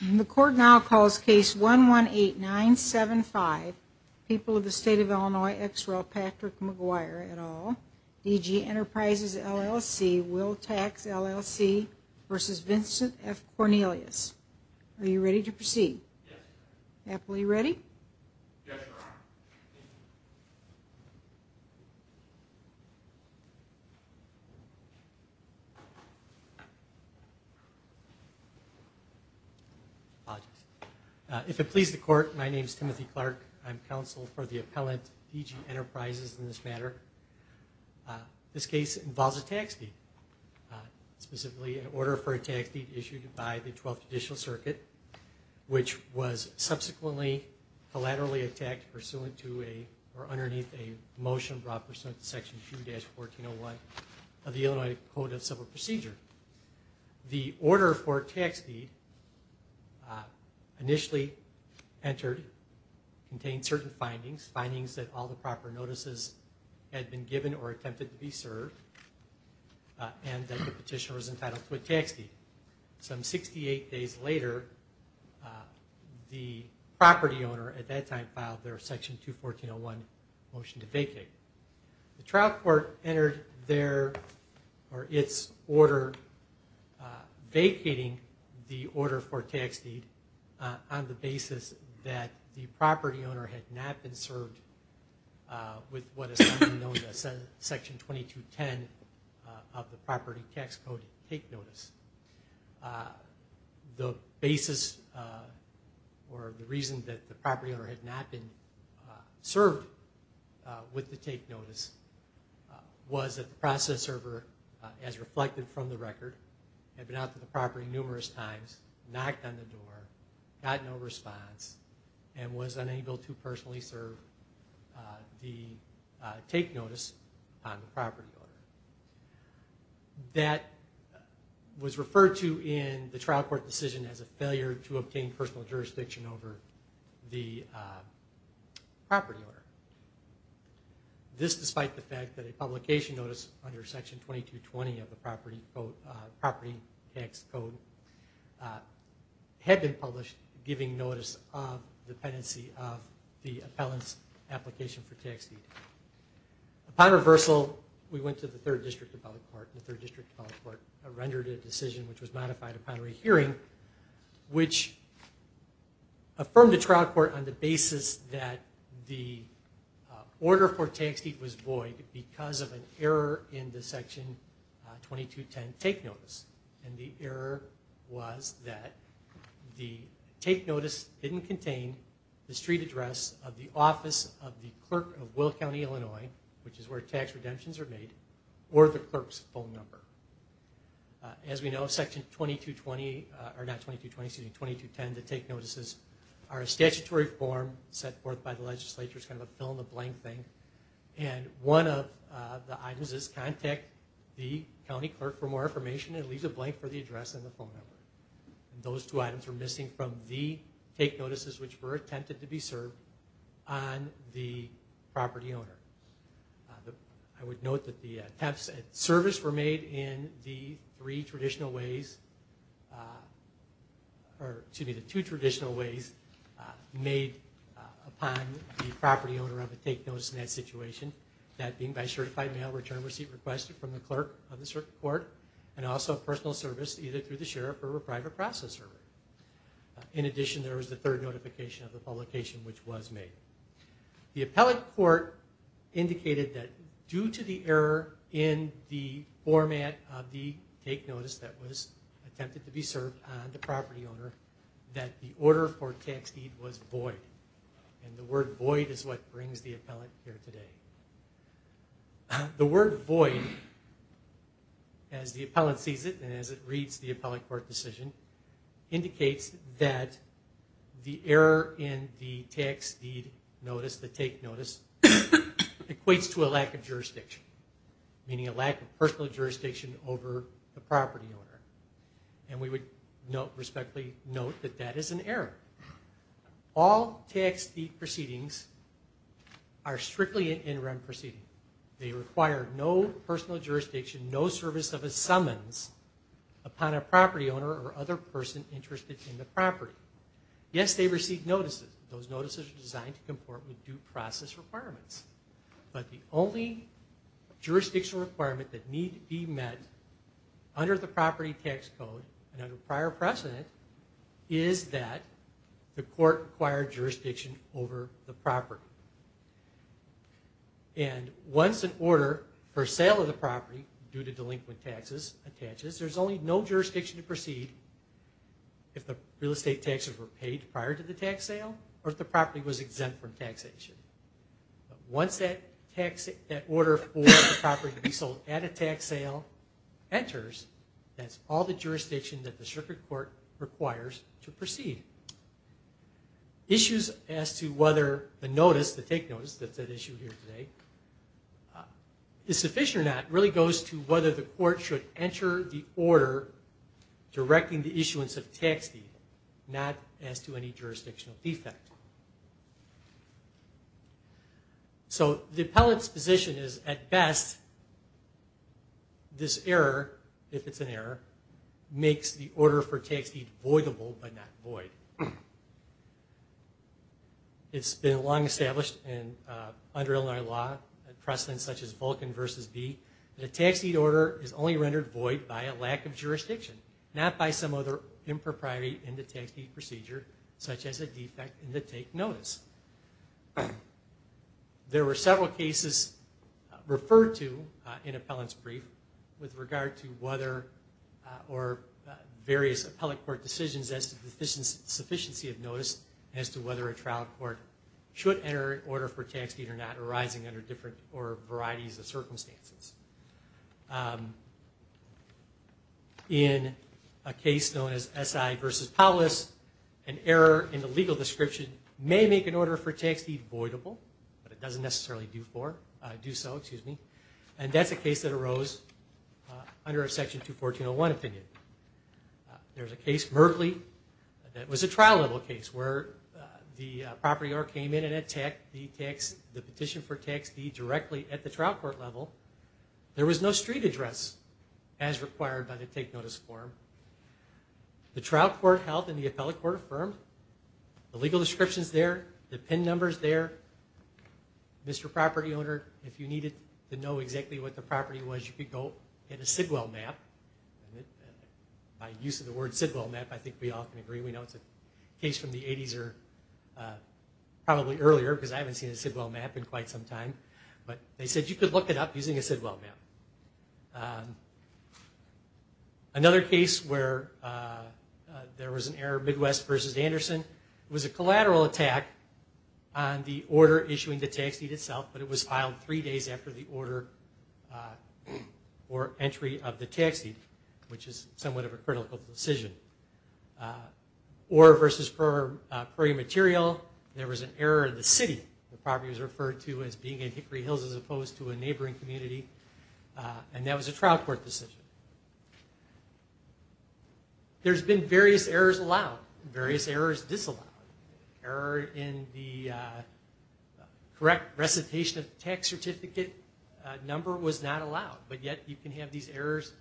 The court now calls case 118975 People of the State of Illinois ex rel. Patrick Mcguire et al. D.G. Enterprises LLC Will Tax LLC v. Vincent F. Cornelius. Are you ready to proceed? Yes. If it pleases the court, my name is Timothy Clark. I'm counsel for the appellant D.G. Enterprises in this matter. This case involves a tax deed, specifically an order for a tax deed issued by the 12th Judicial Circuit, which was subsequently collaterally attacked pursuant to or underneath a motion brought pursuant to section 2-1401 of the Illinois Code of Civil Procedure. The order for a tax deed initially entered contained certain findings, findings that all the proper notices had been given or attempted to be served and that the petitioner was entitled to a tax deed. Some 68 days later, the property owner at that time filed their section 2-1401 motion to vacate. The trial court entered their or its order vacating the order for a tax deed on the basis that the property owner had not been served with what is referred to in the trial court decision as a failure to obtain personal jurisdiction over the property owner. This despite the fact that a publication notice under section 2-220 of the property tax code had been published giving notice of dependency of the appellant's application for tax deed. Upon reversal, we went to the 3rd District Appellate Court. The 3rd District Appellate Court rendered a decision which was modified upon re-hearing which affirmed the trial court on the basis that the order for tax deed was void because of an error in the section 2-210 take notice. The error was that the take notice didn't contain the street address of the office of the clerk of Will County, Illinois, which is where tax redemptions are made, or the clerk's phone number. As we know, section 2-210 take notices are a statutory form set forth by the legislature. It's kind of a fill in the blank thing. And one of the items is contact the county clerk for more information and it leaves a blank for the I would note that the attempts at service were made in the 3 traditional ways, or excuse me, the 2 traditional ways made upon the property owner of a take notice in that situation. That being by certified mail return receipt requested from the clerk of the court and also personal service either through the due to the error in the format of the take notice that was attempted to be served on the property owner, that the order for tax deed was void. And the word void is what brings the appellant here today. The word void, as the appellant sees it and as it reads the appellate court decision, indicates that the error in the tax deed notice, the take notice, equates to a lack of jurisdiction, meaning a lack of personal jurisdiction over the property owner. And we would respectfully note that that is an error. All tax deed proceedings are strictly an interim proceeding. They require no personal jurisdiction, no service of a summons upon a property owner or other person interested in the property. Yes, they receive notices. Those notices are designed to comport with due process requirements. But the only jurisdictional requirement that need be met under the property tax code and under prior precedent is that the court jurisdiction over the property. And once an order for sale of the property due to delinquent taxes attaches, there's only no jurisdiction to proceed if the real estate taxes were paid prior to the tax sale or if the property was exempt from taxation. Once that order for the property to be sold at a tax sale enters, that's all the jurisdiction that the circuit court requires to proceed. Issues as to whether the notice, the take notice that's at issue here today, is sufficient or not really goes to whether the court should enter the order directing the issuance of tax deed, not as to any jurisdictional defect. So the makes the order for tax deed voidable but not void. It's been long established under Illinois law, precedents such as Vulcan v. B, that a tax deed order is only rendered void by a lack of jurisdiction, not by some other impropriety in the tax deed procedure, such as a defect in the take notice. There were various appellate court decisions as to the sufficiency of notice as to whether a trial court should enter an order for tax deed or not arising under different or varieties of circumstances. In a case known as SI v. Paulus, an error in the legal description may make an order for tax deed voidable, but it doesn't necessarily do so. And that's a case that arose under a Section 214.01 opinion. There's a case, Merkley, that was a trial level case where the property owner came in and had the petition for tax deed directly at the trial court level. There was no street address as required by the take notice form. The trial court held in the appellate court affirmed. The legal description's there. The PIN number's there. Mr. Property Owner, if you needed to know exactly what the property was, you could go get a Sidwell map. By use of the word Sidwell map, I think we all can agree. We know it's a case from the Another case where there was an error, Midwest v. Anderson, was a collateral attack on the order issuing the tax deed itself, but it was filed three days after the order for entry of the tax deed, which is somewhat of a critical decision. Or v. Prairie Material, there was an error in the city. The There's been various errors allowed, various errors disallowed. Error in the correct recitation of tax certificate number was not allowed, but yet you can have these errors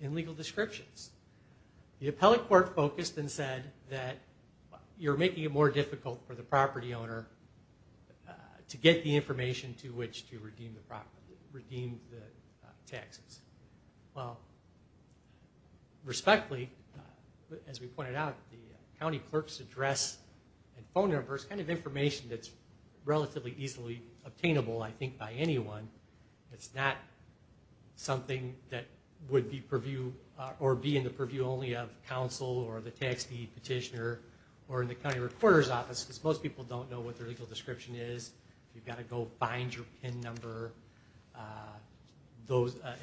in legal descriptions. The appellate court focused and said that you're making it more difficult for the property owner to get the Respectfully, as we pointed out, the county clerk's address and phone number is kind of information that's relatively easily obtainable, I think, by anyone. It's not something that would be in the purview only of counsel or the tax deed petitioner or in the county recorder's office, because most people don't know what their legal description is. You've got to go find your PIN number.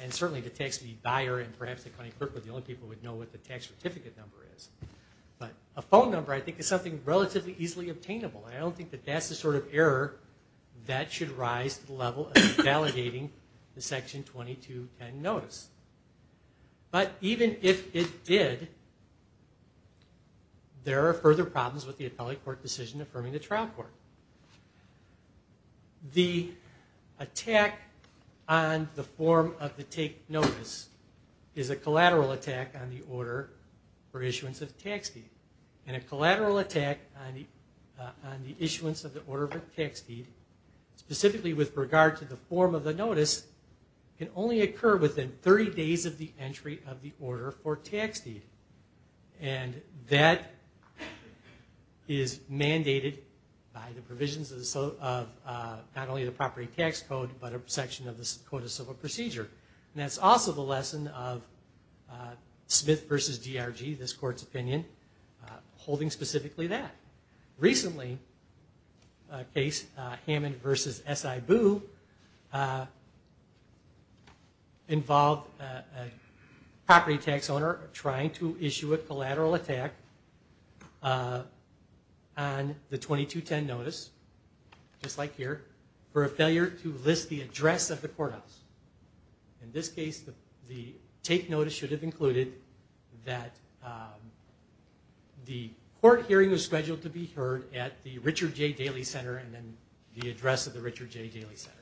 And certainly the tax deed buyer and perhaps the county clerk were the only people who would know what the tax certificate number is. But a phone number, I think, is something relatively easily obtainable, and I don't think that that's the sort of error that should rise to the level of invalidating the Section 2210 notice. But even if it did, there are further problems with the appellate court decision affirming the trial court. The attack on the form of the take notice is a collateral attack on the order for issuance of the tax deed. And a collateral attack on the issuance of the order for tax deed, specifically with regard to the form of the notice, can only occur within 30 days of the entry of the order for tax deed. And that is mandated by the provisions of not only the property tax code, but a section of the Code of Civil Procedure. And that's also the lesson of Smith v. DRG, this court's opinion, holding specifically that. Recently, a case, Hammond v. SI Boo, involved a property tax owner trying to issue a collateral attack on the 2210 notice, just like here, for a failure to list the address of the courthouse. In this case, the take notice should have included that the court hearing was scheduled to be heard at the Richard J. Daly Center and then the address of the Richard J. Daly Center.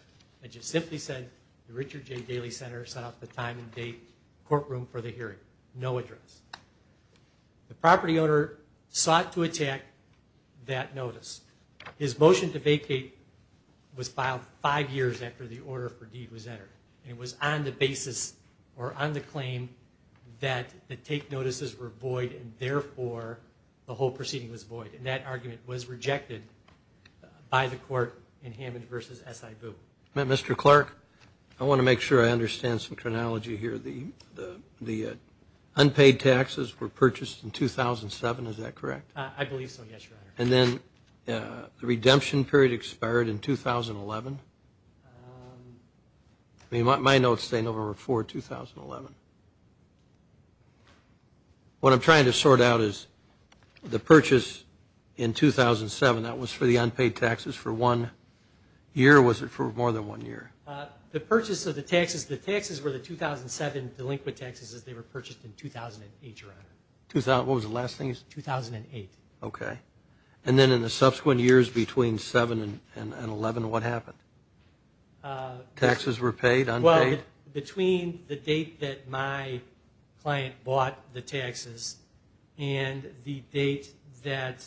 I just simply said the Richard J. Daly Center set up the time and date courtroom for the hearing. No address. The property owner sought to attack that notice. His motion to vacate was filed five years after the order for deed was entered. And it was on the basis, or on the claim, that the take notices were void and therefore the whole proceeding was void. And that argument was rejected by the court in Hammond v. SI Boo. Mr. Clark, I want to make sure I understand some chronology here. The unpaid taxes were purchased in 2007, is that correct? I believe so, yes, Your Honor. And then the redemption period expired in 2011? I mean, my notes say November 4, 2011. What I'm trying to sort out is the purchase in 2007, that was for the unpaid taxes for one year or was it for more than one year? The purchase of the taxes, the taxes were the 2007 delinquent taxes as they were purchased in 2008, Your Honor. What was the last thing you said? 2008. 2008, okay. And then in the subsequent years between 2007 and 2011, what happened? Taxes were paid, unpaid? Well, between the date that my client bought the taxes and the date that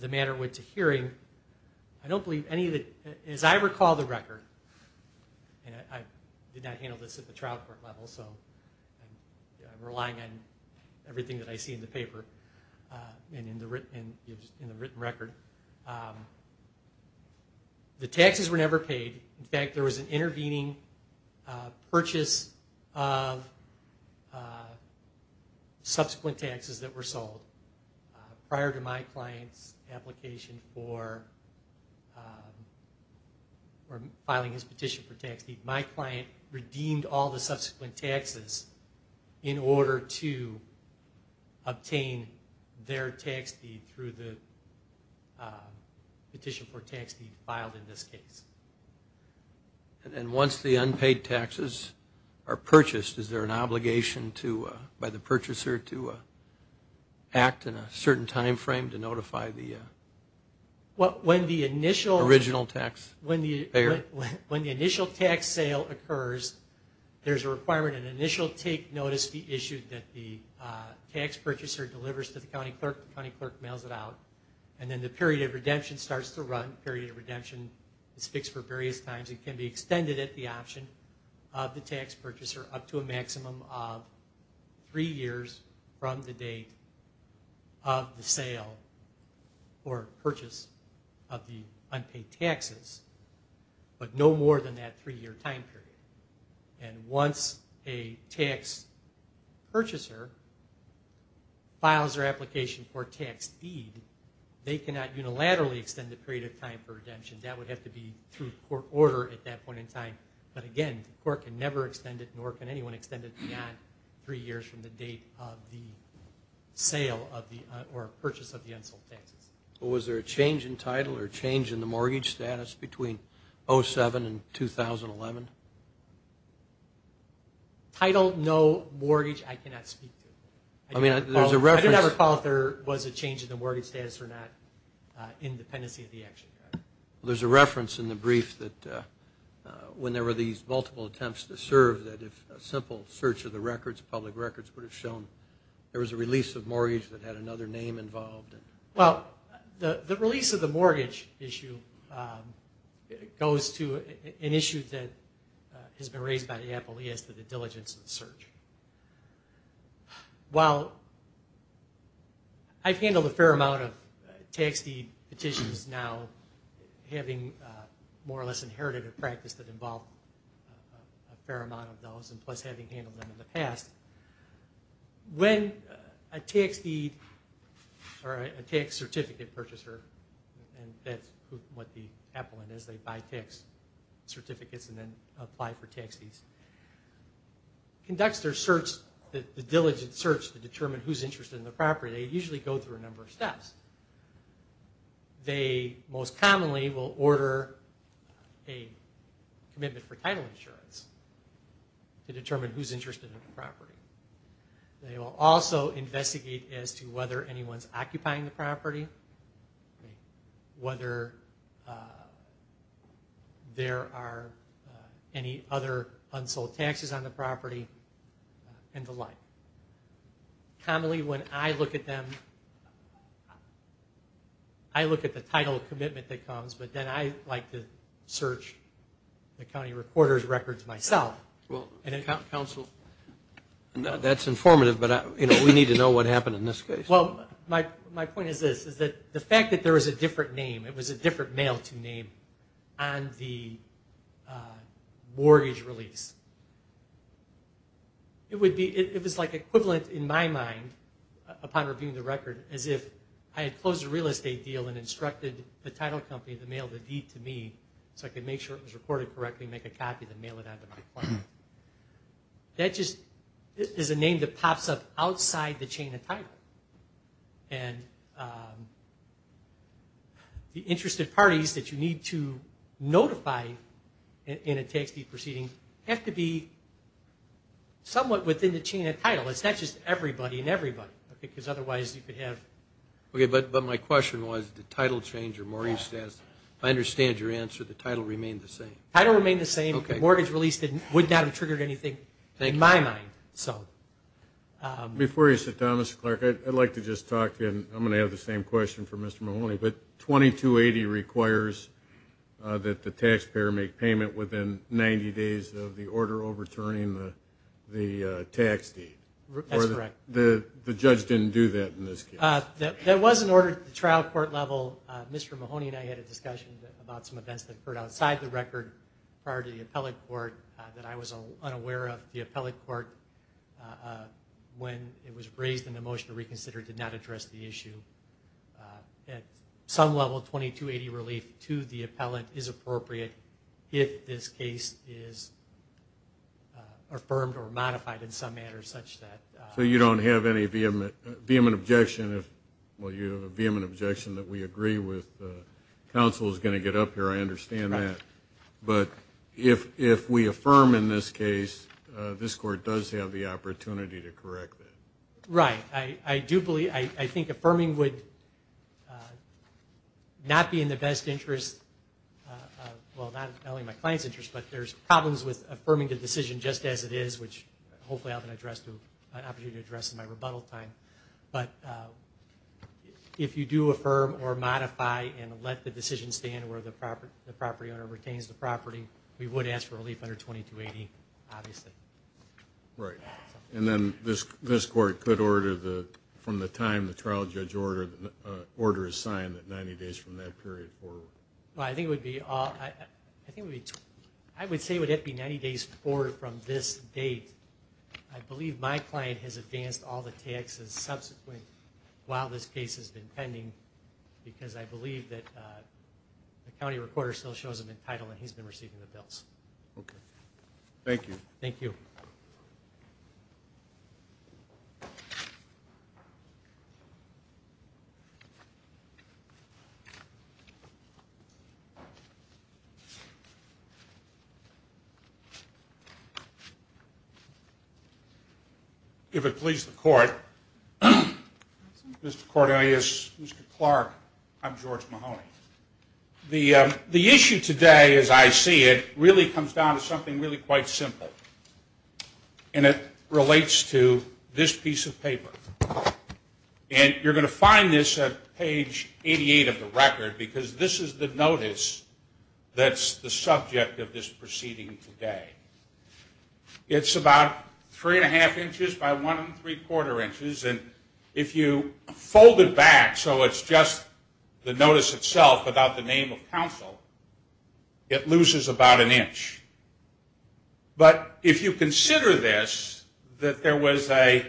the matter went to hearing, I don't believe any of the, as I recall the record, and I did not handle this at the trial court level, so I'm relying on everything that I see in the paper and in the written record. The taxes were never paid. In fact, there was an intervening purchase of subsequent taxes that were sold prior to my client's application for filing his petition for tax in order to obtain their tax fee through the petition for tax fee filed in this case. And once the unpaid taxes are purchased, is there an obligation by the purchaser to act in a certain time frame to notify the original tax payer? When the initial tax sale occurs, there's a requirement an initial take notice be issued that the tax purchaser delivers to the county clerk, the county clerk mails it out, and then the period of redemption starts to run, period of redemption is fixed for various times, it can be extended at the option of the tax purchaser up to a maximum of three years from the date of the sale or purchase of the unpaid taxes. But no more than that three-year time period. And once a tax purchaser files their application for tax fee, they cannot unilaterally extend the period of time for redemption, that would have to be through court order at that point in time. But again, the court can never extend it, nor can anyone extend it beyond three years from the date of the sale or purchase of the unsold taxes. Well, was there a change in title or a change in the mortgage status between 2007 and 2011? Title, no, mortgage, I cannot speak to it. I mean, there's a reference. I do not recall if there was a change in the mortgage status or not in dependency of the action plan. Well, there's a reference in the brief that when there were these multiple attempts to serve, that if a simple search of the records, public records would have shown there was a release of mortgage that had another name involved. Well, the release of the mortgage issue goes to an issue that has been raised by the appellee as to the diligence of the search. While I've handled a fair amount of tax deed petitions now, having more or less inherited a practice that involved a fair amount of those, and plus having handled them in the past, when a tax deed or a tax certificate purchaser, and that's what the appellant is, they buy tax certificates and then apply for tax deeds, conducts their search, the diligent search to determine who's interested in the property, they usually go through a number of steps. They most commonly will order a commitment for title insurance to determine who's interested in the property. They will also investigate as to whether anyone's occupying the property, whether there are any other unsold taxes on the property, and the like. Commonly, when I look at them, I look at the title of commitment that comes, but then I like to search the county reporter's records myself. Well, counsel, that's informative, but we need to know what happened in this case. Well, my point is this, is that the fact that there was a different name, it was a different mail-to name on the mortgage release, it was like equivalent in my mind, upon reviewing the record, as if I had closed a real estate deal and instructed the title company to mail the deed to me so I could make sure it was recorded correctly and make a copy and mail it out to my client. That just is a name that pops up outside the chain of title, and the interested parties that you need to notify in a tax deed proceeding have to be somewhat within the chain of title. It's not just everybody and everybody, because otherwise you could have... Okay, but my question was, did title change or mortgage change? If I understand your answer, the title remained the same. Title remained the same. Okay. The mortgage release would not have triggered anything in my mind, so... Before you sit down, Mr. Clark, I'd like to just talk, and I'm going to have the same question for Mr. Mahoney, but 2280 requires that the taxpayer make payment within 90 days of the order overturning the tax deed. That's correct. The judge didn't do that in this case. That was an order at the trial court level. Mr. Mahoney and I had a discussion about some events that occurred outside the record prior to the appellate court that I was unaware of. The appellate court, when it was raised in the motion to reconsider, did not address the issue. At some level, 2280 relief to the appellant is appropriate if this case is affirmed or modified in some manner such that... So you don't have any vehement objection if... Well, you have a vehement objection that we agree with. The council is going to get up here. I understand that. But if we affirm in this case, this court does have the opportunity to correct it. Right. I do believe... I think affirming would not be in the best interest... Well, not only in my client's interest, but there's problems with affirming the decision just as it is, which hopefully I'll have an opportunity to address in my rebuttal time. But if you do affirm or modify and let the decision stand where the property owner retains the property, we would ask for relief under 2280, obviously. Right. And then this court could order, from the time the trial judge order is signed, 90 days from that period forward. Well, I think it would be... I would say it would have to be 90 days forward from this date. I believe my client has advanced all the taxes subsequent while this case has been pending because I believe that the county recorder still shows him in title and he's been receiving the bills. Okay. Thank you. Thank you. If it pleases the court, Mr. Cordelius, Mr. Clark, I'm George Mahoney. The issue today, as I see it, really comes down to something really quite simple, and it relates to this piece of paper. And you're going to find this at page 88 of the record because this is the notice that's the subject of this proceeding today. It's about 3 1⁄2 inches by 1 3⁄4 inches, and if you fold it back so it's just the notice itself without the name of counsel, it loses about an inch. But if you consider this, that there was a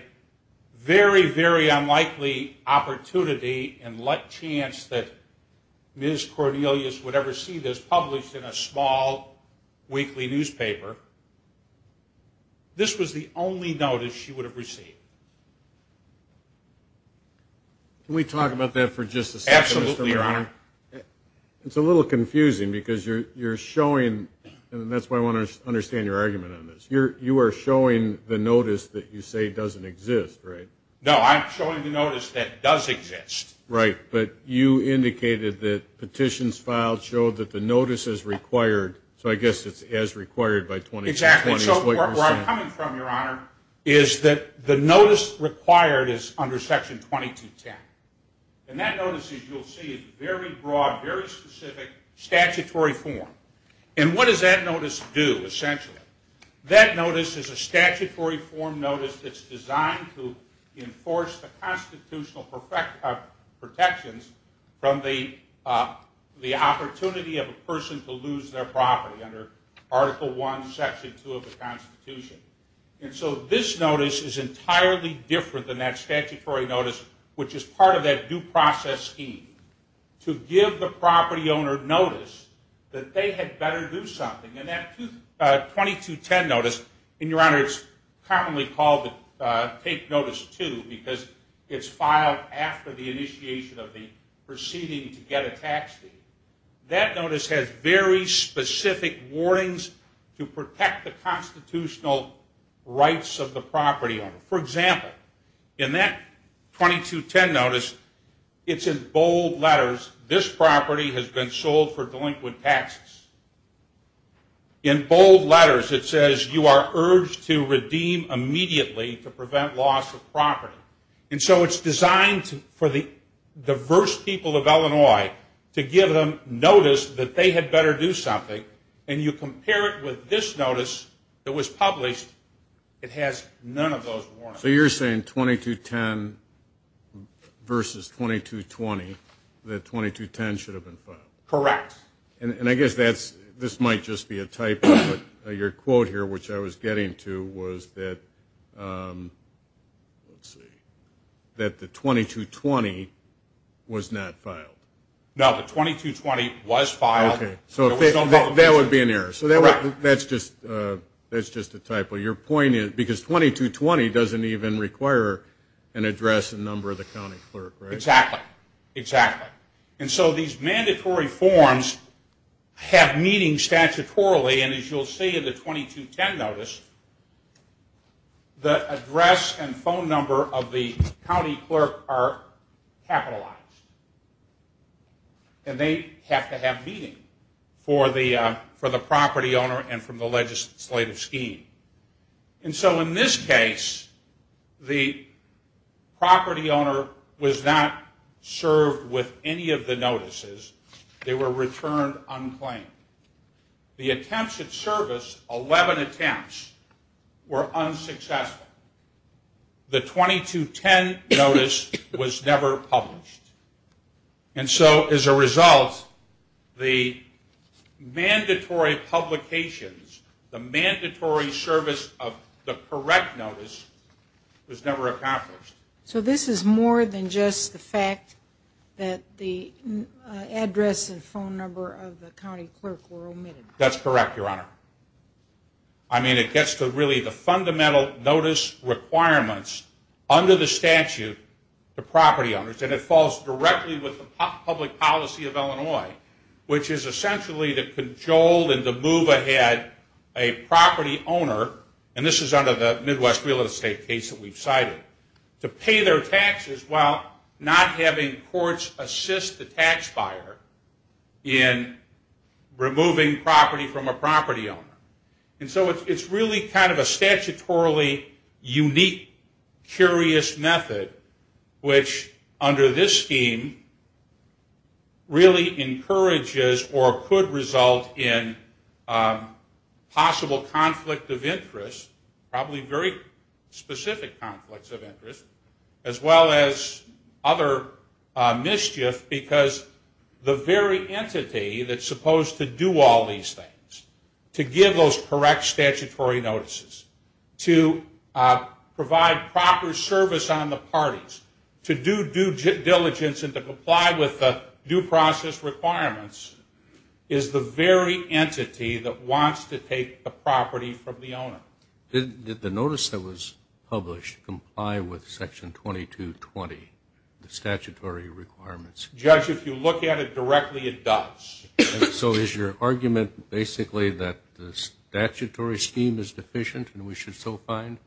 very, very unlikely opportunity and like chance that Ms. Cordelius would ever see this published in a small weekly newspaper, this was the only notice she would have received. Can we talk about that for just a second, Mr. Mahoney? Absolutely, Your Honor. It's a little confusing because you're showing, and that's why I want to understand your argument on this, you are showing the notice that you say doesn't exist, right? No, I'm showing the notice that does exist. Right, but you indicated that petitions filed show that the notice is required, so I guess it's as required by 2220. Exactly, so where I'm coming from, Your Honor, is that the notice required is under Section 2210. And that notice, as you'll see, is very broad, very specific, statutory form. And what does that notice do, essentially? That notice is a statutory form notice that's designed to enforce the constitutional protections from the opportunity of a person to lose their property under Article I, Section 2 of the Constitution. And so this notice is entirely different than that statutory notice, which is part of that due process scheme to give the property owner notice that they had better do something. And that 2210 notice, and, Your Honor, it's commonly called the Take Notice 2 because it's filed after the initiation of the proceeding to get a tax fee. That notice has very specific warnings to protect the constitutional rights of the property owner. For example, in that 2210 notice, it's in bold letters, this property has been sold for delinquent taxes. In bold letters, it says you are urged to redeem immediately to prevent loss of property. And so it's designed for the diverse people of Illinois to give them notice that they had better do something, and you compare it with this notice that was published, it has none of those warnings. So you're saying 2210 versus 2220, that 2210 should have been filed? Correct. And I guess this might just be a typo, but your quote here, which I was getting to, was that the 2220 was not filed. No, the 2220 was filed. Okay, so that would be an error. So that's just a typo. Because 2220 doesn't even require an address and number of the county clerk, right? Exactly, exactly. And so these mandatory forms have meaning statutorily, and as you'll see in the 2210 notice, the address and phone number of the county clerk are capitalized. And they have to have meaning for the property owner and from the legislative scheme. And so in this case, the property owner was not served with any of the notices. They were returned unclaimed. The attempts at service, 11 attempts, were unsuccessful. The 2210 notice was never published. And so as a result, the mandatory publications, the mandatory service of the correct notice was never accomplished. So this is more than just the fact that the address and phone number of the county clerk were omitted. That's correct, Your Honor. I mean, it gets to really the fundamental notice requirements under the statute to property owners, and it falls directly with the public policy of Illinois, which is essentially to cajole and to move ahead a property owner, and this is under the Midwest real estate case that we've cited, to pay their taxes while not having courts assist the tax buyer in removing property from a property owner. And so it's really kind of a statutorily unique, curious method which under this scheme really encourages or could result in possible conflict of interest, probably very specific conflicts of interest, as well as other mischief because the very entity that's supposed to do all these things, to give those correct statutory notices, to provide proper service on the parties, to do due diligence and to comply with the due process requirements, is the very entity that wants to take the property from the owner. Did the notice that was published comply with Section 2220, the statutory requirements? Judge, if you look at it directly, it does. So is your argument basically that the statutory scheme is deficient and we should still find?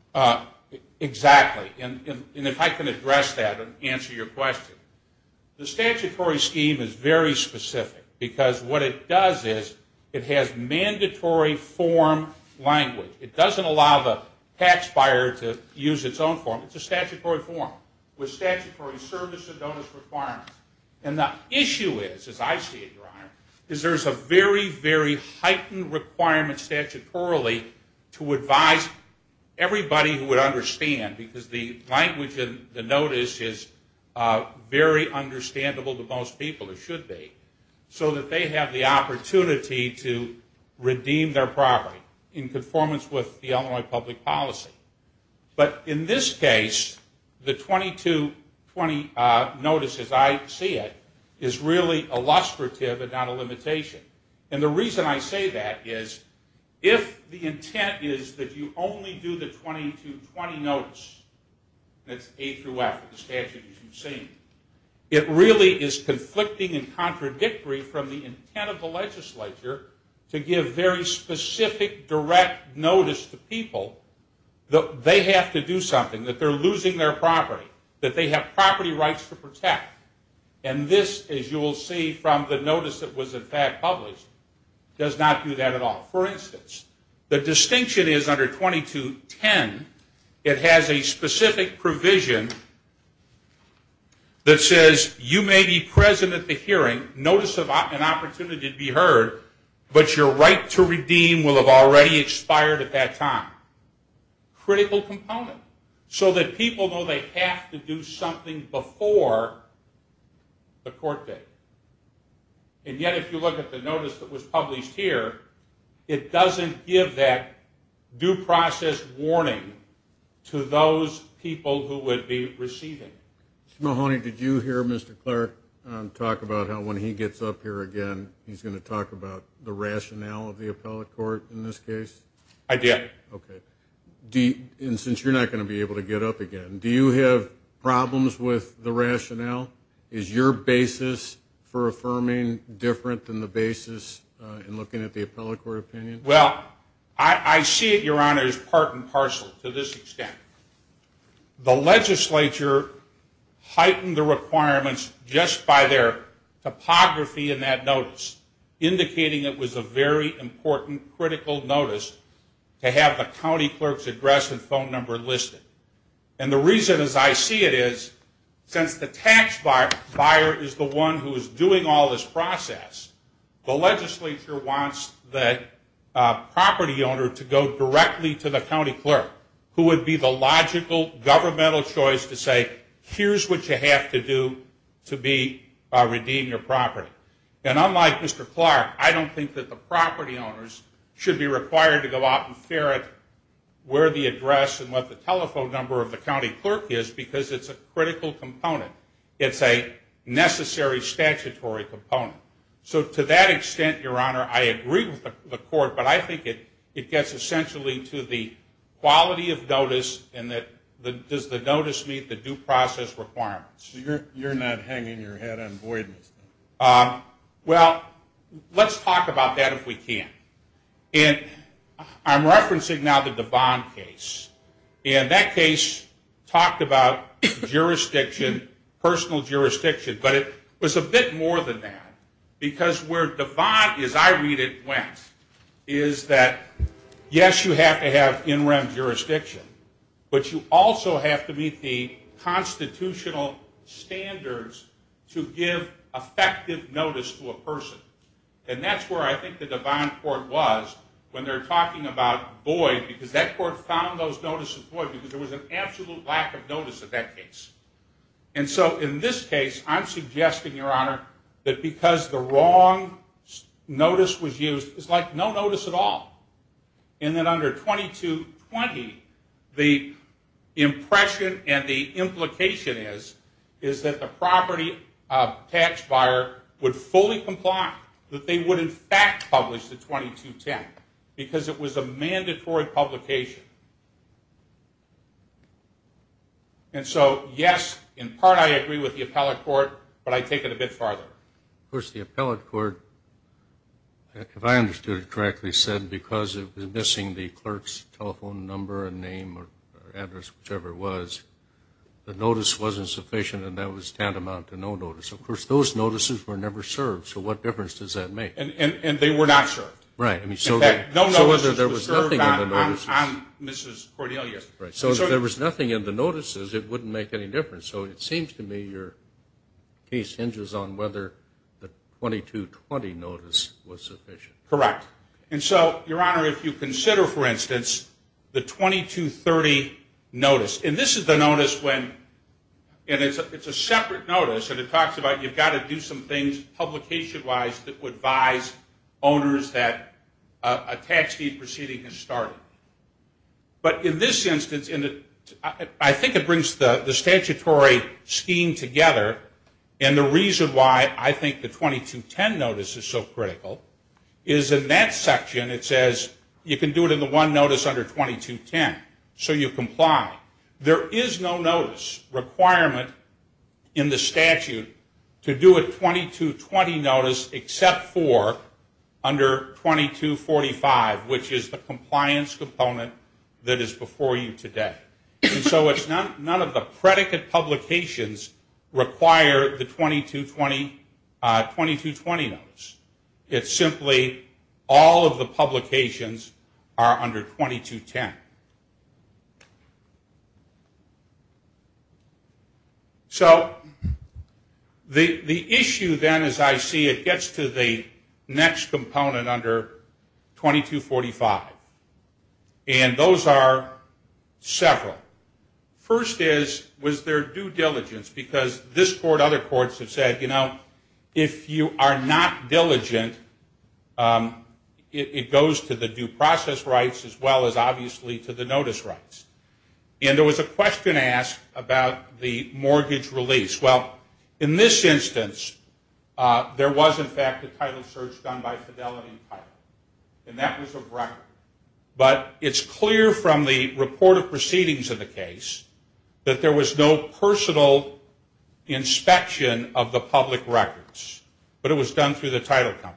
Exactly. And if I can address that and answer your question, the statutory scheme is very specific because what it does is it has mandatory form language. It doesn't allow the tax buyer to use its own form. It's a statutory form with statutory service and notice requirements. And the issue is, as I see it, Your Honor, is there's a very, very heightened requirement statutorily to advise everybody who would understand because the language in the notice is very understandable to most people, it should be, so that they have the opportunity to redeem their property in conformance with the Illinois public policy. But in this case, the 2220 notice, as I see it, is really illustrative and not a limitation. And the reason I say that is if the intent is that you only do the 2220 notice, that's A through F with the statute as you've seen, it really is conflicting and contradictory from the intent of the something, that they're losing their property, that they have property rights to protect. And this, as you will see from the notice that was in fact published, does not do that at all. For instance, the distinction is under 2210, it has a specific provision that says you may be present at the hearing, notice of an opportunity to be heard, but your right to redeem will have already expired at that time. Critical component. So that people know they have to do something before the court date. And yet if you look at the notice that was published here, it doesn't give that due process warning to those people who would be receiving it. Mr. Mahoney, did you hear Mr. Clark talk about how when he gets up here again, he's going to talk about the rationale of the appellate court in this case? I did. Okay. And since you're not going to be able to get up again, do you have problems with the rationale? Is your basis for affirming different than the basis in looking at the appellate court opinion? Well, I see it, Your Honor, as part and parcel to this extent. The legislature heightened the requirements just by their topography in that notice to have the county clerk's address and phone number listed. And the reason, as I see it, is since the tax buyer is the one who is doing all this process, the legislature wants the property owner to go directly to the county clerk, who would be the logical governmental choice to say, here's what you have to do to redeem your property. And unlike Mr. Clark, I don't think that the property owners should be required to go out and ferret where the address and what the telephone number of the county clerk is because it's a critical component. It's a necessary statutory component. So to that extent, Your Honor, I agree with the court, but I think it gets essentially to the quality of notice and that does the notice meet the due process requirements. You're not hanging your head in void, Mr. Clark. Well, let's talk about that if we can. And I'm referencing now the Devon case. And that case talked about jurisdiction, personal jurisdiction, but it was a bit more than that because where Devon, as I read it, went is that, yes, you have to have in rem jurisdiction, but you also have to meet the constitutional standards to give effective notice to a person. And that's where I think the Devon court was when they're talking about void because that court found those notices void because there was an absolute lack of notice in that case. And so in this case, I'm suggesting, Your Honor, that because the wrong notice was used, it's like no notice at all. And then under 2220, the impression and the implication is, is that the property tax buyer would fully comply that they would, in fact, publish the 2210 because it was a mandatory publication. And so, yes, in part I agree with the appellate court, but I take it a bit farther. Of course, the appellate court, if I understood it correctly, said because it was missing the clerk's telephone number and name or address, whichever it was, the notice wasn't sufficient, and that was tantamount to no notice. Of course, those notices were never served, so what difference does that make? And they were not served. Right. No notices were served on Mrs. Cordelia. Right. So if there was nothing in the notices, it wouldn't make any difference. So it seems to me your case hinges on whether the 2220 notice was sufficient. Correct. And so, Your Honor, if you consider, for instance, the 2230 notice, and this is the notice when, and it's a separate notice, and it talks about you've got to do some things publication-wise that would advise owners that a tax deed proceeding has started. But in this instance, I think it brings the statutory scheme together, and the reason why I think the 2210 notice is so critical is in that section it says you can do it in the one notice under 2210, so you comply. There is no notice requirement in the statute to do a 2220 notice except for under 2245, which is the compliance component that is before you today. And so none of the predicate publications require the 2220 notice. It's simply all of the publications are under 2210. So the issue then, as I see it, gets to the next component under 2245, and those are several. First is, was there due diligence? Because this court, other courts have said, you know, if you are not diligent, it goes to the due process rights as well as, obviously, to the notice rights. And there was a question asked about the mortgage release. Well, in this instance, there was, in fact, a title search done by Fidelity and Pirate, and that was a record. But it's clear from the report of proceedings of the case that there was no personal inspection of the public records, but it was done through the title company.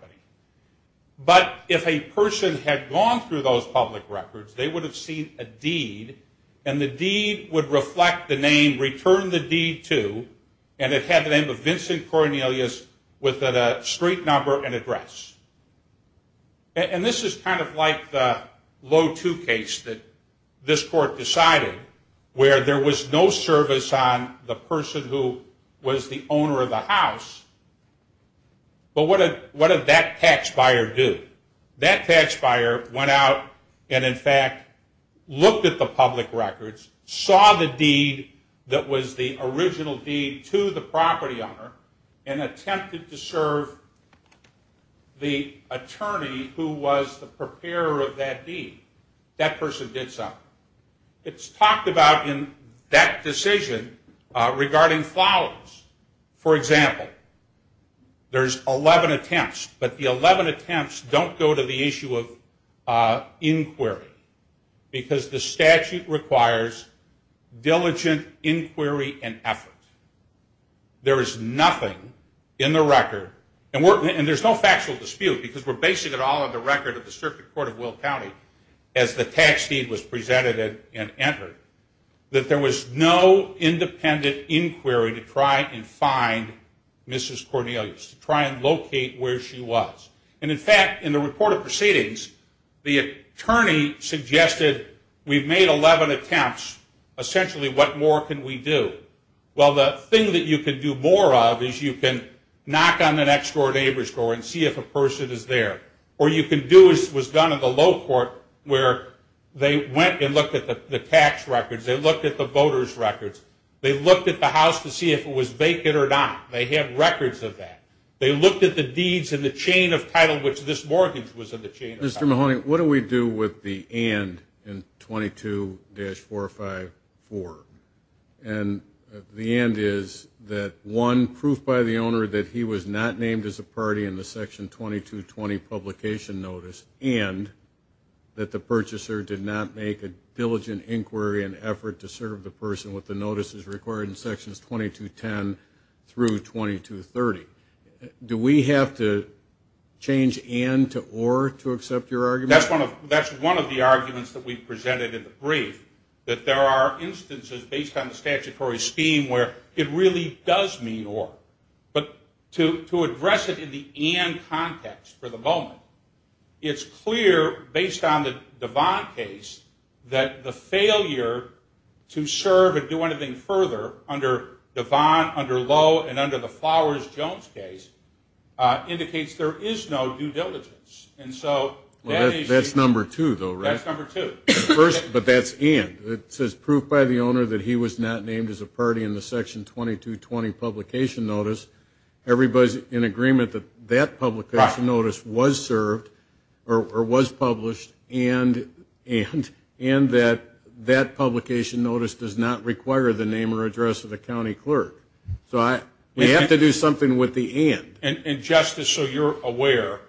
But if a person had gone through those public records, they would have seen a deed, and the deed would reflect the name, return the deed to, and it had the name of Vincent Cornelius with a street number and address. And this is kind of like the low two case that this court decided, where there was no service on the person who was the owner of the house, but what did that tax buyer do? That tax buyer went out and, in fact, looked at the public records, saw the deed that was the original deed to the property owner, and attempted to serve the attorney who was the preparer of that deed. That person did something. It's talked about in that decision regarding flowers. For example, there's 11 attempts, but the 11 attempts don't go to the issue of inquiry, because the statute requires diligent inquiry and effort. There is nothing in the record, and there's no factual dispute, because we're basing it all on the record of the Circuit Court of Will County, as the tax deed was presented and entered, that there was no independent inquiry to try and find Mrs. Cornelius, to try and locate where she was. And, in fact, in the report of proceedings, the attorney suggested we've made 11 attempts. Essentially, what more can we do? Well, the thing that you could do more of is you can knock on the next-door neighbor's door and see if a person is there. Or you can do as was done in the Low Court, where they went and looked at the tax records, they looked at the voters' records, they looked at the house to see if it was vacant or not. They have records of that. They looked at the deeds in the chain of title which this mortgage was in the chain of title. Mr. Mahoney, what do we do with the and in 22-454? And the and is that one, proof by the owner that he was not named as a party in the Section 2220 publication notice and that the purchaser did not make a diligent inquiry and effort to serve the person with the notices required in Sections 2210 through 2230. Do we have to change and to or to accept your argument? That's one of the arguments that we presented in the brief, that there are instances based on the statutory scheme where it really does mean or. But to address it in the and context for the moment, it's clear based on the Devon case that the failure to serve or do anything further under Devon, under Lowe, and under the Flowers-Jones case indicates there is no due diligence. And so that is. That's number two, though, right? That's number two. But that's and. It says proof by the owner that he was not named as a party in the Section 2220 publication notice. Everybody's in agreement that that publication notice was served or was published and that that publication notice does not require the name or address of the county clerk. So we have to do something with the and. And, Justice, so you're aware,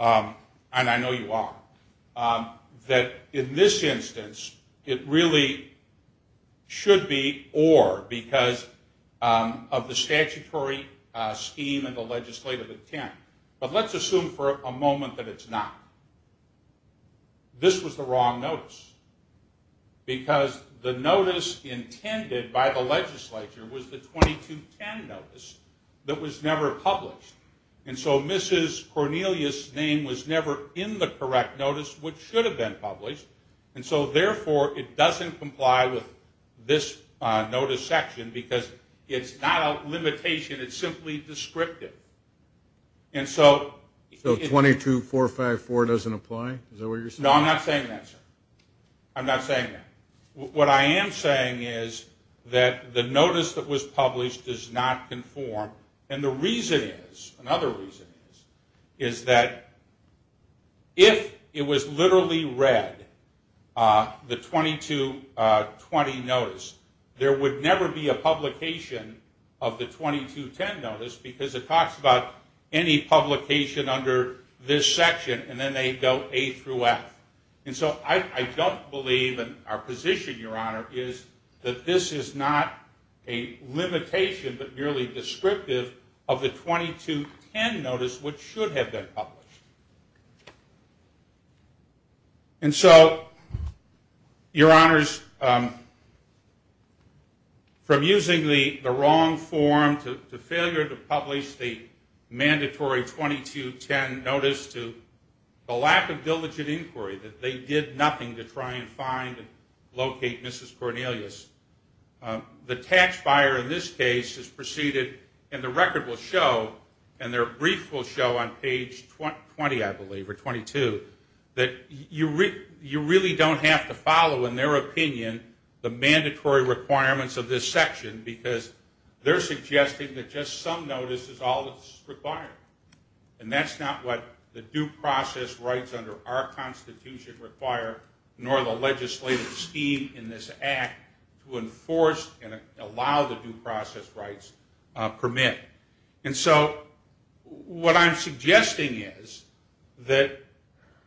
and I know you are, that in this instance it really should be or because of the statutory scheme and the legislative intent. But let's assume for a moment that it's not. This was the wrong notice. Because the notice intended by the legislature was the 2210 notice that was never published. And so Mrs. Cornelius' name was never in the correct notice, which should have been published. And so, therefore, it doesn't comply with this notice section because it's not a limitation. It's simply descriptive. So 22454 doesn't apply? Is that what you're saying? No, I'm not saying that, sir. I'm not saying that. What I am saying is that the notice that was published does not conform. And the reason is, another reason is, is that if it was literally read, the 2220 notice, there would never be a publication of the 2210 notice because it talks about any publication under this section and then they go A through F. And so I don't believe, and our position, Your Honor, is that this is not a limitation but merely descriptive of the 2210 notice, which should have been published. And so, Your Honors, from using the wrong form to failure to publish the mandatory 2210 notice to the lack of diligent inquiry, that they did nothing to try and find and locate Mrs. Cornelius, the tax buyer in this case has proceeded, and the record will show, and their brief will show on page 20, I believe, or 22, that you really don't have to follow, in their opinion, the mandatory requirements of this section because they're suggesting that just some notice is all that's required. And that's not what the due process rights under our Constitution require, nor the legislative scheme in this Act to enforce and allow the due process rights permit. And so what I'm suggesting is that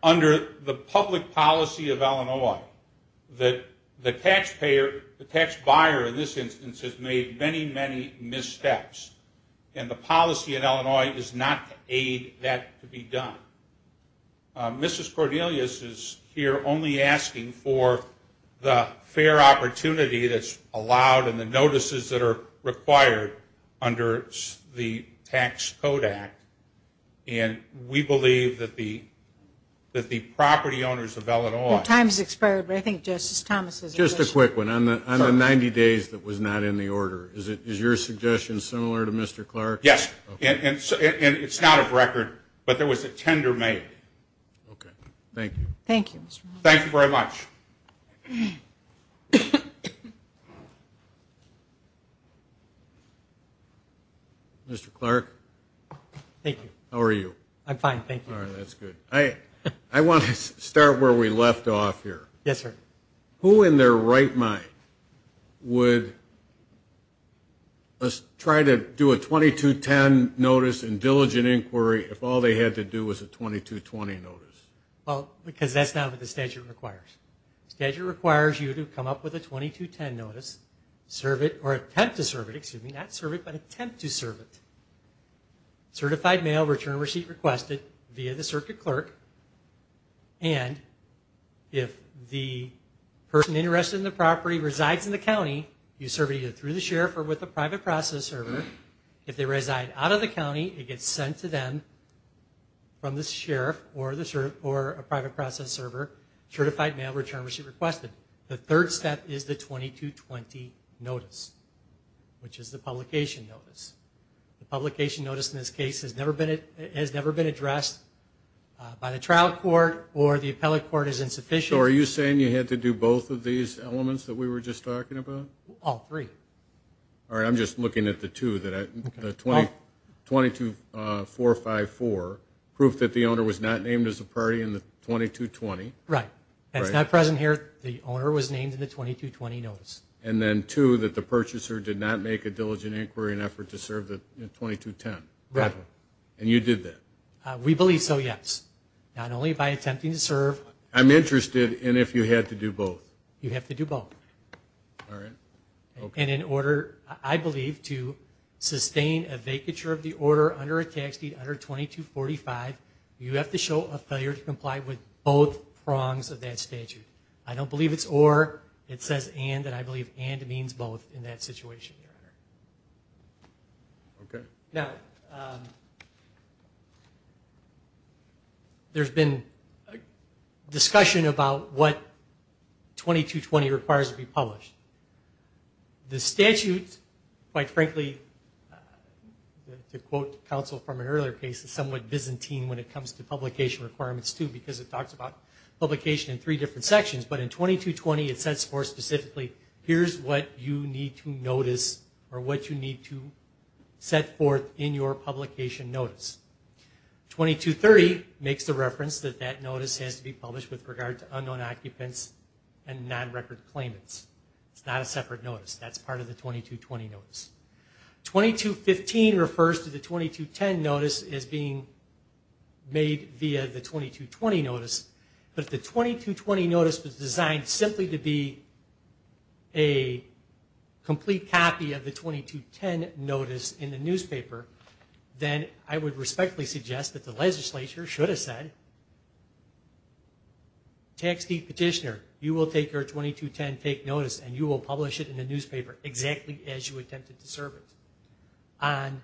under the public policy of Illinois, that the taxpayer in this instance has made many, many missteps, and the policy in Illinois is not to aid that to be done. Mrs. Cornelius is here only asking for the fair opportunity that's allowed and the notices that are required under the Tax Code Act, and we believe that the property owners of Illinois... Time's expired, but I think Justice Thomas has a question. Just a quick one. On the 90 days that was not in the order, is your suggestion similar to Mr. Clark's? Yes. And it's not a record, but there was a tender made. Okay. Thank you. Thank you. Thank you very much. Mr. Clark? Thank you. How are you? I'm fine, thank you. All right, that's good. I want to start where we left off here. Yes, sir. Who in their right mind would try to do a 2210 notice and diligent inquiry if all they had to do was a 2220 notice? Well, because that's not what the statute requires. The statute requires you to come up with a 2210 notice, serve it or attempt to serve it. Excuse me, not serve it, but attempt to serve it. Certified mail, return receipt requested via the circuit clerk, and if the person interested in the property resides in the county, you serve it either through the sheriff or with a private process server. If they reside out of the county, it gets sent to them from the sheriff or a private process server. Certified mail, return receipt requested. The third step is the 2220 notice, which is the publication notice. The publication notice in this case has never been addressed by the trial court or the appellate court is insufficient. So are you saying you had to do both of these elements that we were just talking about? All three. All right, I'm just looking at the two, the 22454, proof that the owner was not named as a party in the 2220. Right. That's not present here. The owner was named in the 2220 notice. And then two, that the purchaser did not make a diligent inquiry in an effort to serve the 2210. Right. And you did that. We believe so, yes. Not only by attempting to serve. I'm interested in if you had to do both. You have to do both. All right. And in order, I believe, to sustain a vacature of the order under a tax deed under 2245, you have to show a failure to comply with both prongs of that statute. I don't believe it's or. It says and, and I believe and means both in that situation, Your Honor. Okay. Now, there's been discussion about what 2220 requires to be published. The statute, quite frankly, to quote counsel from an earlier case, is somewhat Byzantine when it comes to publication requirements, too, because it talks about publication in three different sections. But in 2220, it says more specifically, here's what you need to notice or what you need to set forth in your publication notice. 2230 makes the reference that that notice has to be published with regard to unknown occupants and non-recorded claimants. It's not a separate notice. That's part of the 2220 notice. 2215 refers to the 2210 notice as being made via the 2220 notice. But if the 2220 notice was designed simply to be a complete copy of the 2210 notice in the newspaper, then I would respectfully suggest that the legislature should have said, Tax Deed Petitioner, you will take your 2210 fake notice and you will publish it in the newspaper exactly as you attempted to serve it on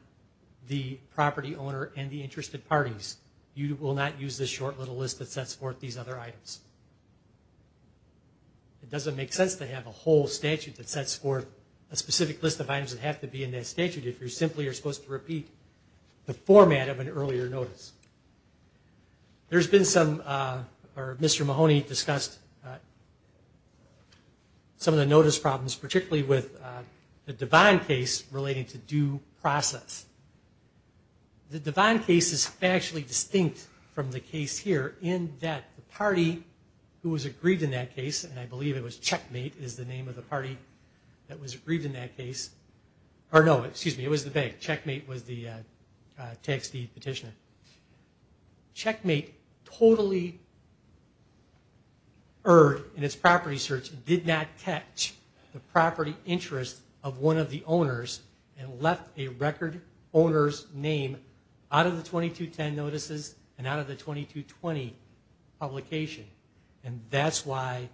the property owner and the interested parties. You will not use this short little list that sets forth these other items. It doesn't make sense to have a whole statute that sets forth a specific list of items that have to be in that statute if you simply are supposed to repeat the format of an earlier notice. Mr. Mahoney discussed some of the notice problems, particularly with the Devon case relating to due process. The Devon case is actually distinct from the case here in that the party who was agreed in that case, and I believe it was Checkmate is the name of the party that was agreed in that case. No, excuse me, it was the bank. Checkmate was the Tax Deed Petitioner. Checkmate totally erred in its property search and did not catch the property interest of one of the owners and left a record owner's name out of the 2210 notices and out of the 2220 publication. And that's why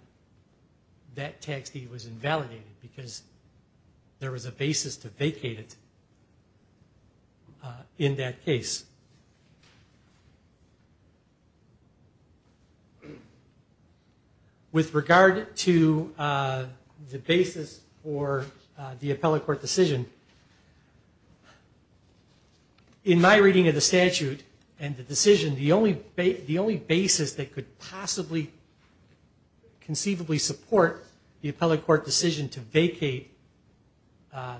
that tax deed was invalidated because there was a basis to vacate it in that case. With regard to the basis for the appellate court decision, in my reading of the conceivably support the appellate court decision to vacate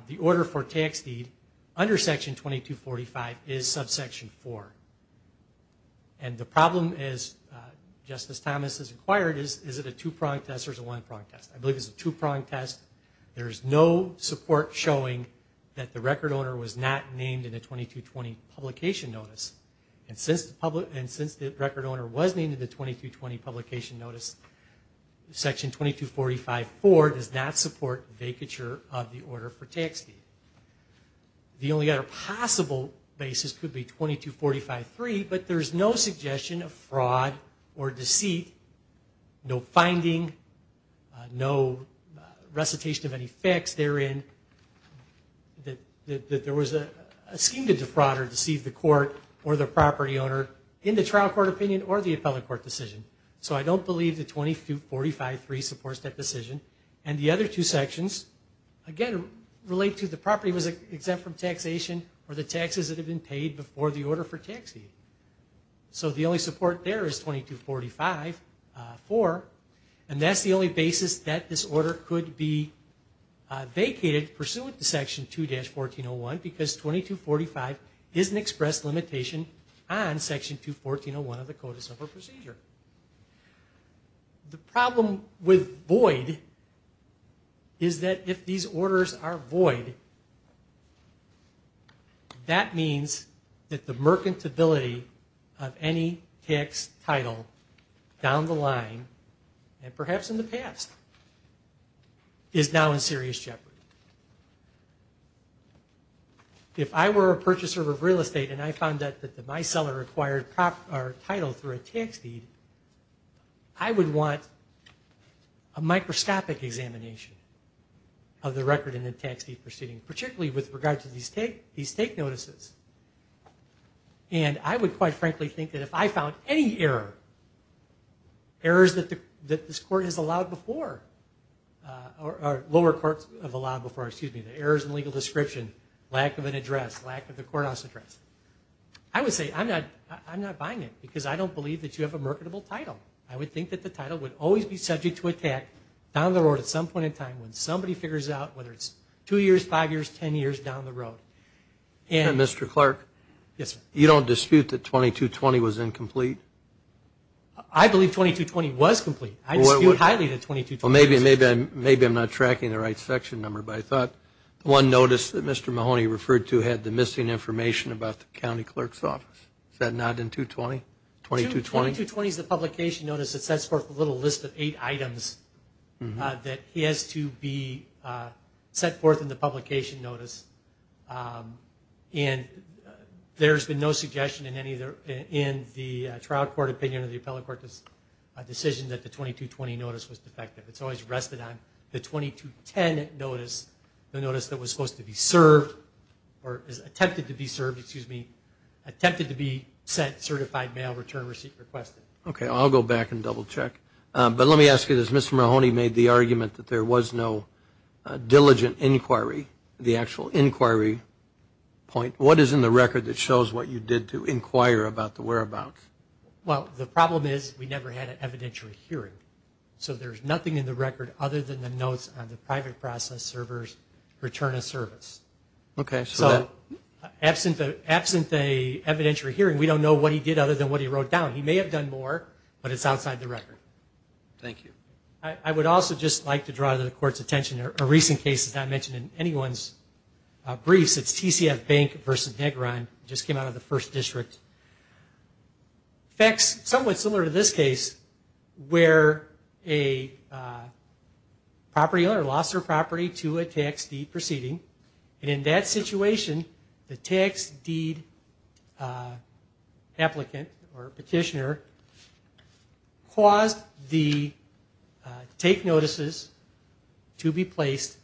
the order for tax deed under section 2245 is subsection 4. And the problem, as Justice Thomas has inquired, is it a two-pronged test or is it a one-pronged test? I believe it's a two-pronged test. There's no support showing that the record owner was not named in the 2220 publication notice. Section 2245.4 does not support vacature of the order for tax deed. The only other possible basis could be 2245.3, but there's no suggestion of fraud or deceit, no finding, no recitation of any facts therein that there was a scheme to defraud or deceive the court or the property owner in the trial court opinion or the appellate court decision. So I don't believe that 2245.3 supports that decision. And the other two sections, again, relate to the property was exempt from taxation or the taxes that have been paid before the order for tax deed. So the only support there is 2245.4, and that's the only basis that this order could be vacated pursuant to section 2-1401 because 2245 is an expressed limitation on section 2-1401 of the Code of Civil Procedure. The problem with void is that if these orders are void, that means that the mercantility of any tax title down the line, and perhaps in the past, is now in serious jeopardy. If I were a purchaser of real estate and I found that my seller acquired title through a tax deed, I would want a microscopic examination of the record in the tax deed proceeding, particularly with regard to these take notices. And I would quite frankly think that if I found any error, errors that this court has allowed before, or lower courts have allowed before, excuse me, the errors in legal description, lack of an address, lack of the courthouse address, I would say I'm not buying it because I don't believe that you have a marketable title. I would think that the title would always be subject to attack down the road at some point in time when somebody figures out whether it's two years, five years, ten years down the road. And Mr. Clark, you don't dispute that 2220 was incomplete? I believe 2220 was complete. I dispute highly that 2220 was complete. Well, maybe I'm not tracking the right section number, but I thought the one notice that Mr. Mahoney referred to had the missing information about the county clerk's office. Is that not in 220, 2220? 2220 is the publication notice that sets forth a little list of eight items that has to be set forth in the publication notice. And there's been no suggestion in the trial court opinion or the appellate trial court's decision that the 2220 notice was defective. It's always rested on the 2210 notice, the notice that was supposed to be served or attempted to be served, excuse me, attempted to be sent certified mail return receipt requested. Okay, I'll go back and double check. But let me ask you, has Mr. Mahoney made the argument that there was no diligent inquiry, the actual inquiry point? What is in the record that shows what you did to inquire about the whereabouts? Well, the problem is we never had an evidentiary hearing. So there's nothing in the record other than the notes on the private process server's return of service. Okay. So absent an evidentiary hearing, we don't know what he did other than what he wrote down. He may have done more, but it's outside the record. Thank you. I would also just like to draw the court's attention to a recent case that's not mentioned in anyone's briefs. It's TCF Bank versus Negron. Just came out of the first district. Facts somewhat similar to this case where a property owner lost their property to a tax deed proceeding. And in that situation, the tax deed applicant or petitioner caused the take notices to be placed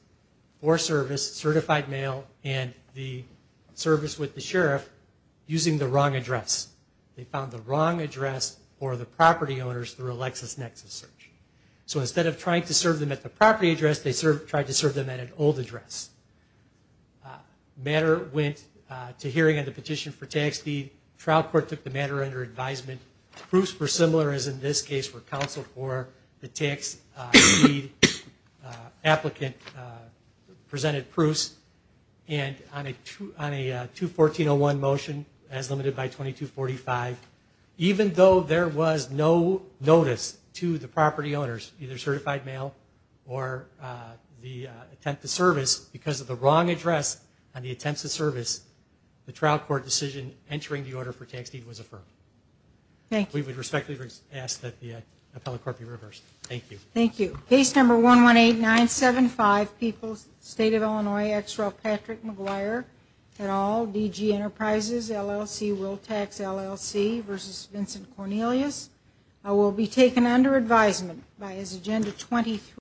for service, certified mail, and the service with the sheriff, using the wrong address. They found the wrong address for the property owners through a LexisNexis search. So instead of trying to serve them at the property address, they tried to serve them at an old address. Matter went to hearing on the petition for tax deed. Trial court took the matter under advisement. Proofs were similar, as in this case, where counsel for the tax deed applicant presented proofs. And on a 214-01 motion, as limited by 2245, even though there was no notice to the property owners, either certified mail or the attempt to service, because of the wrong address on the attempts to service, the trial court decision entering the order for tax deed was affirmed. Thank you. We respectfully ask that the appellate court be reversed. Thank you. Thank you. Case number 118975, Peoples State of Illinois, ex-Ralph Patrick McGuire, et al., DG Enterprises, LLC, Will Tax, LLC, v. Vincent Cornelius. I will be taken under advisement by his agenda 23.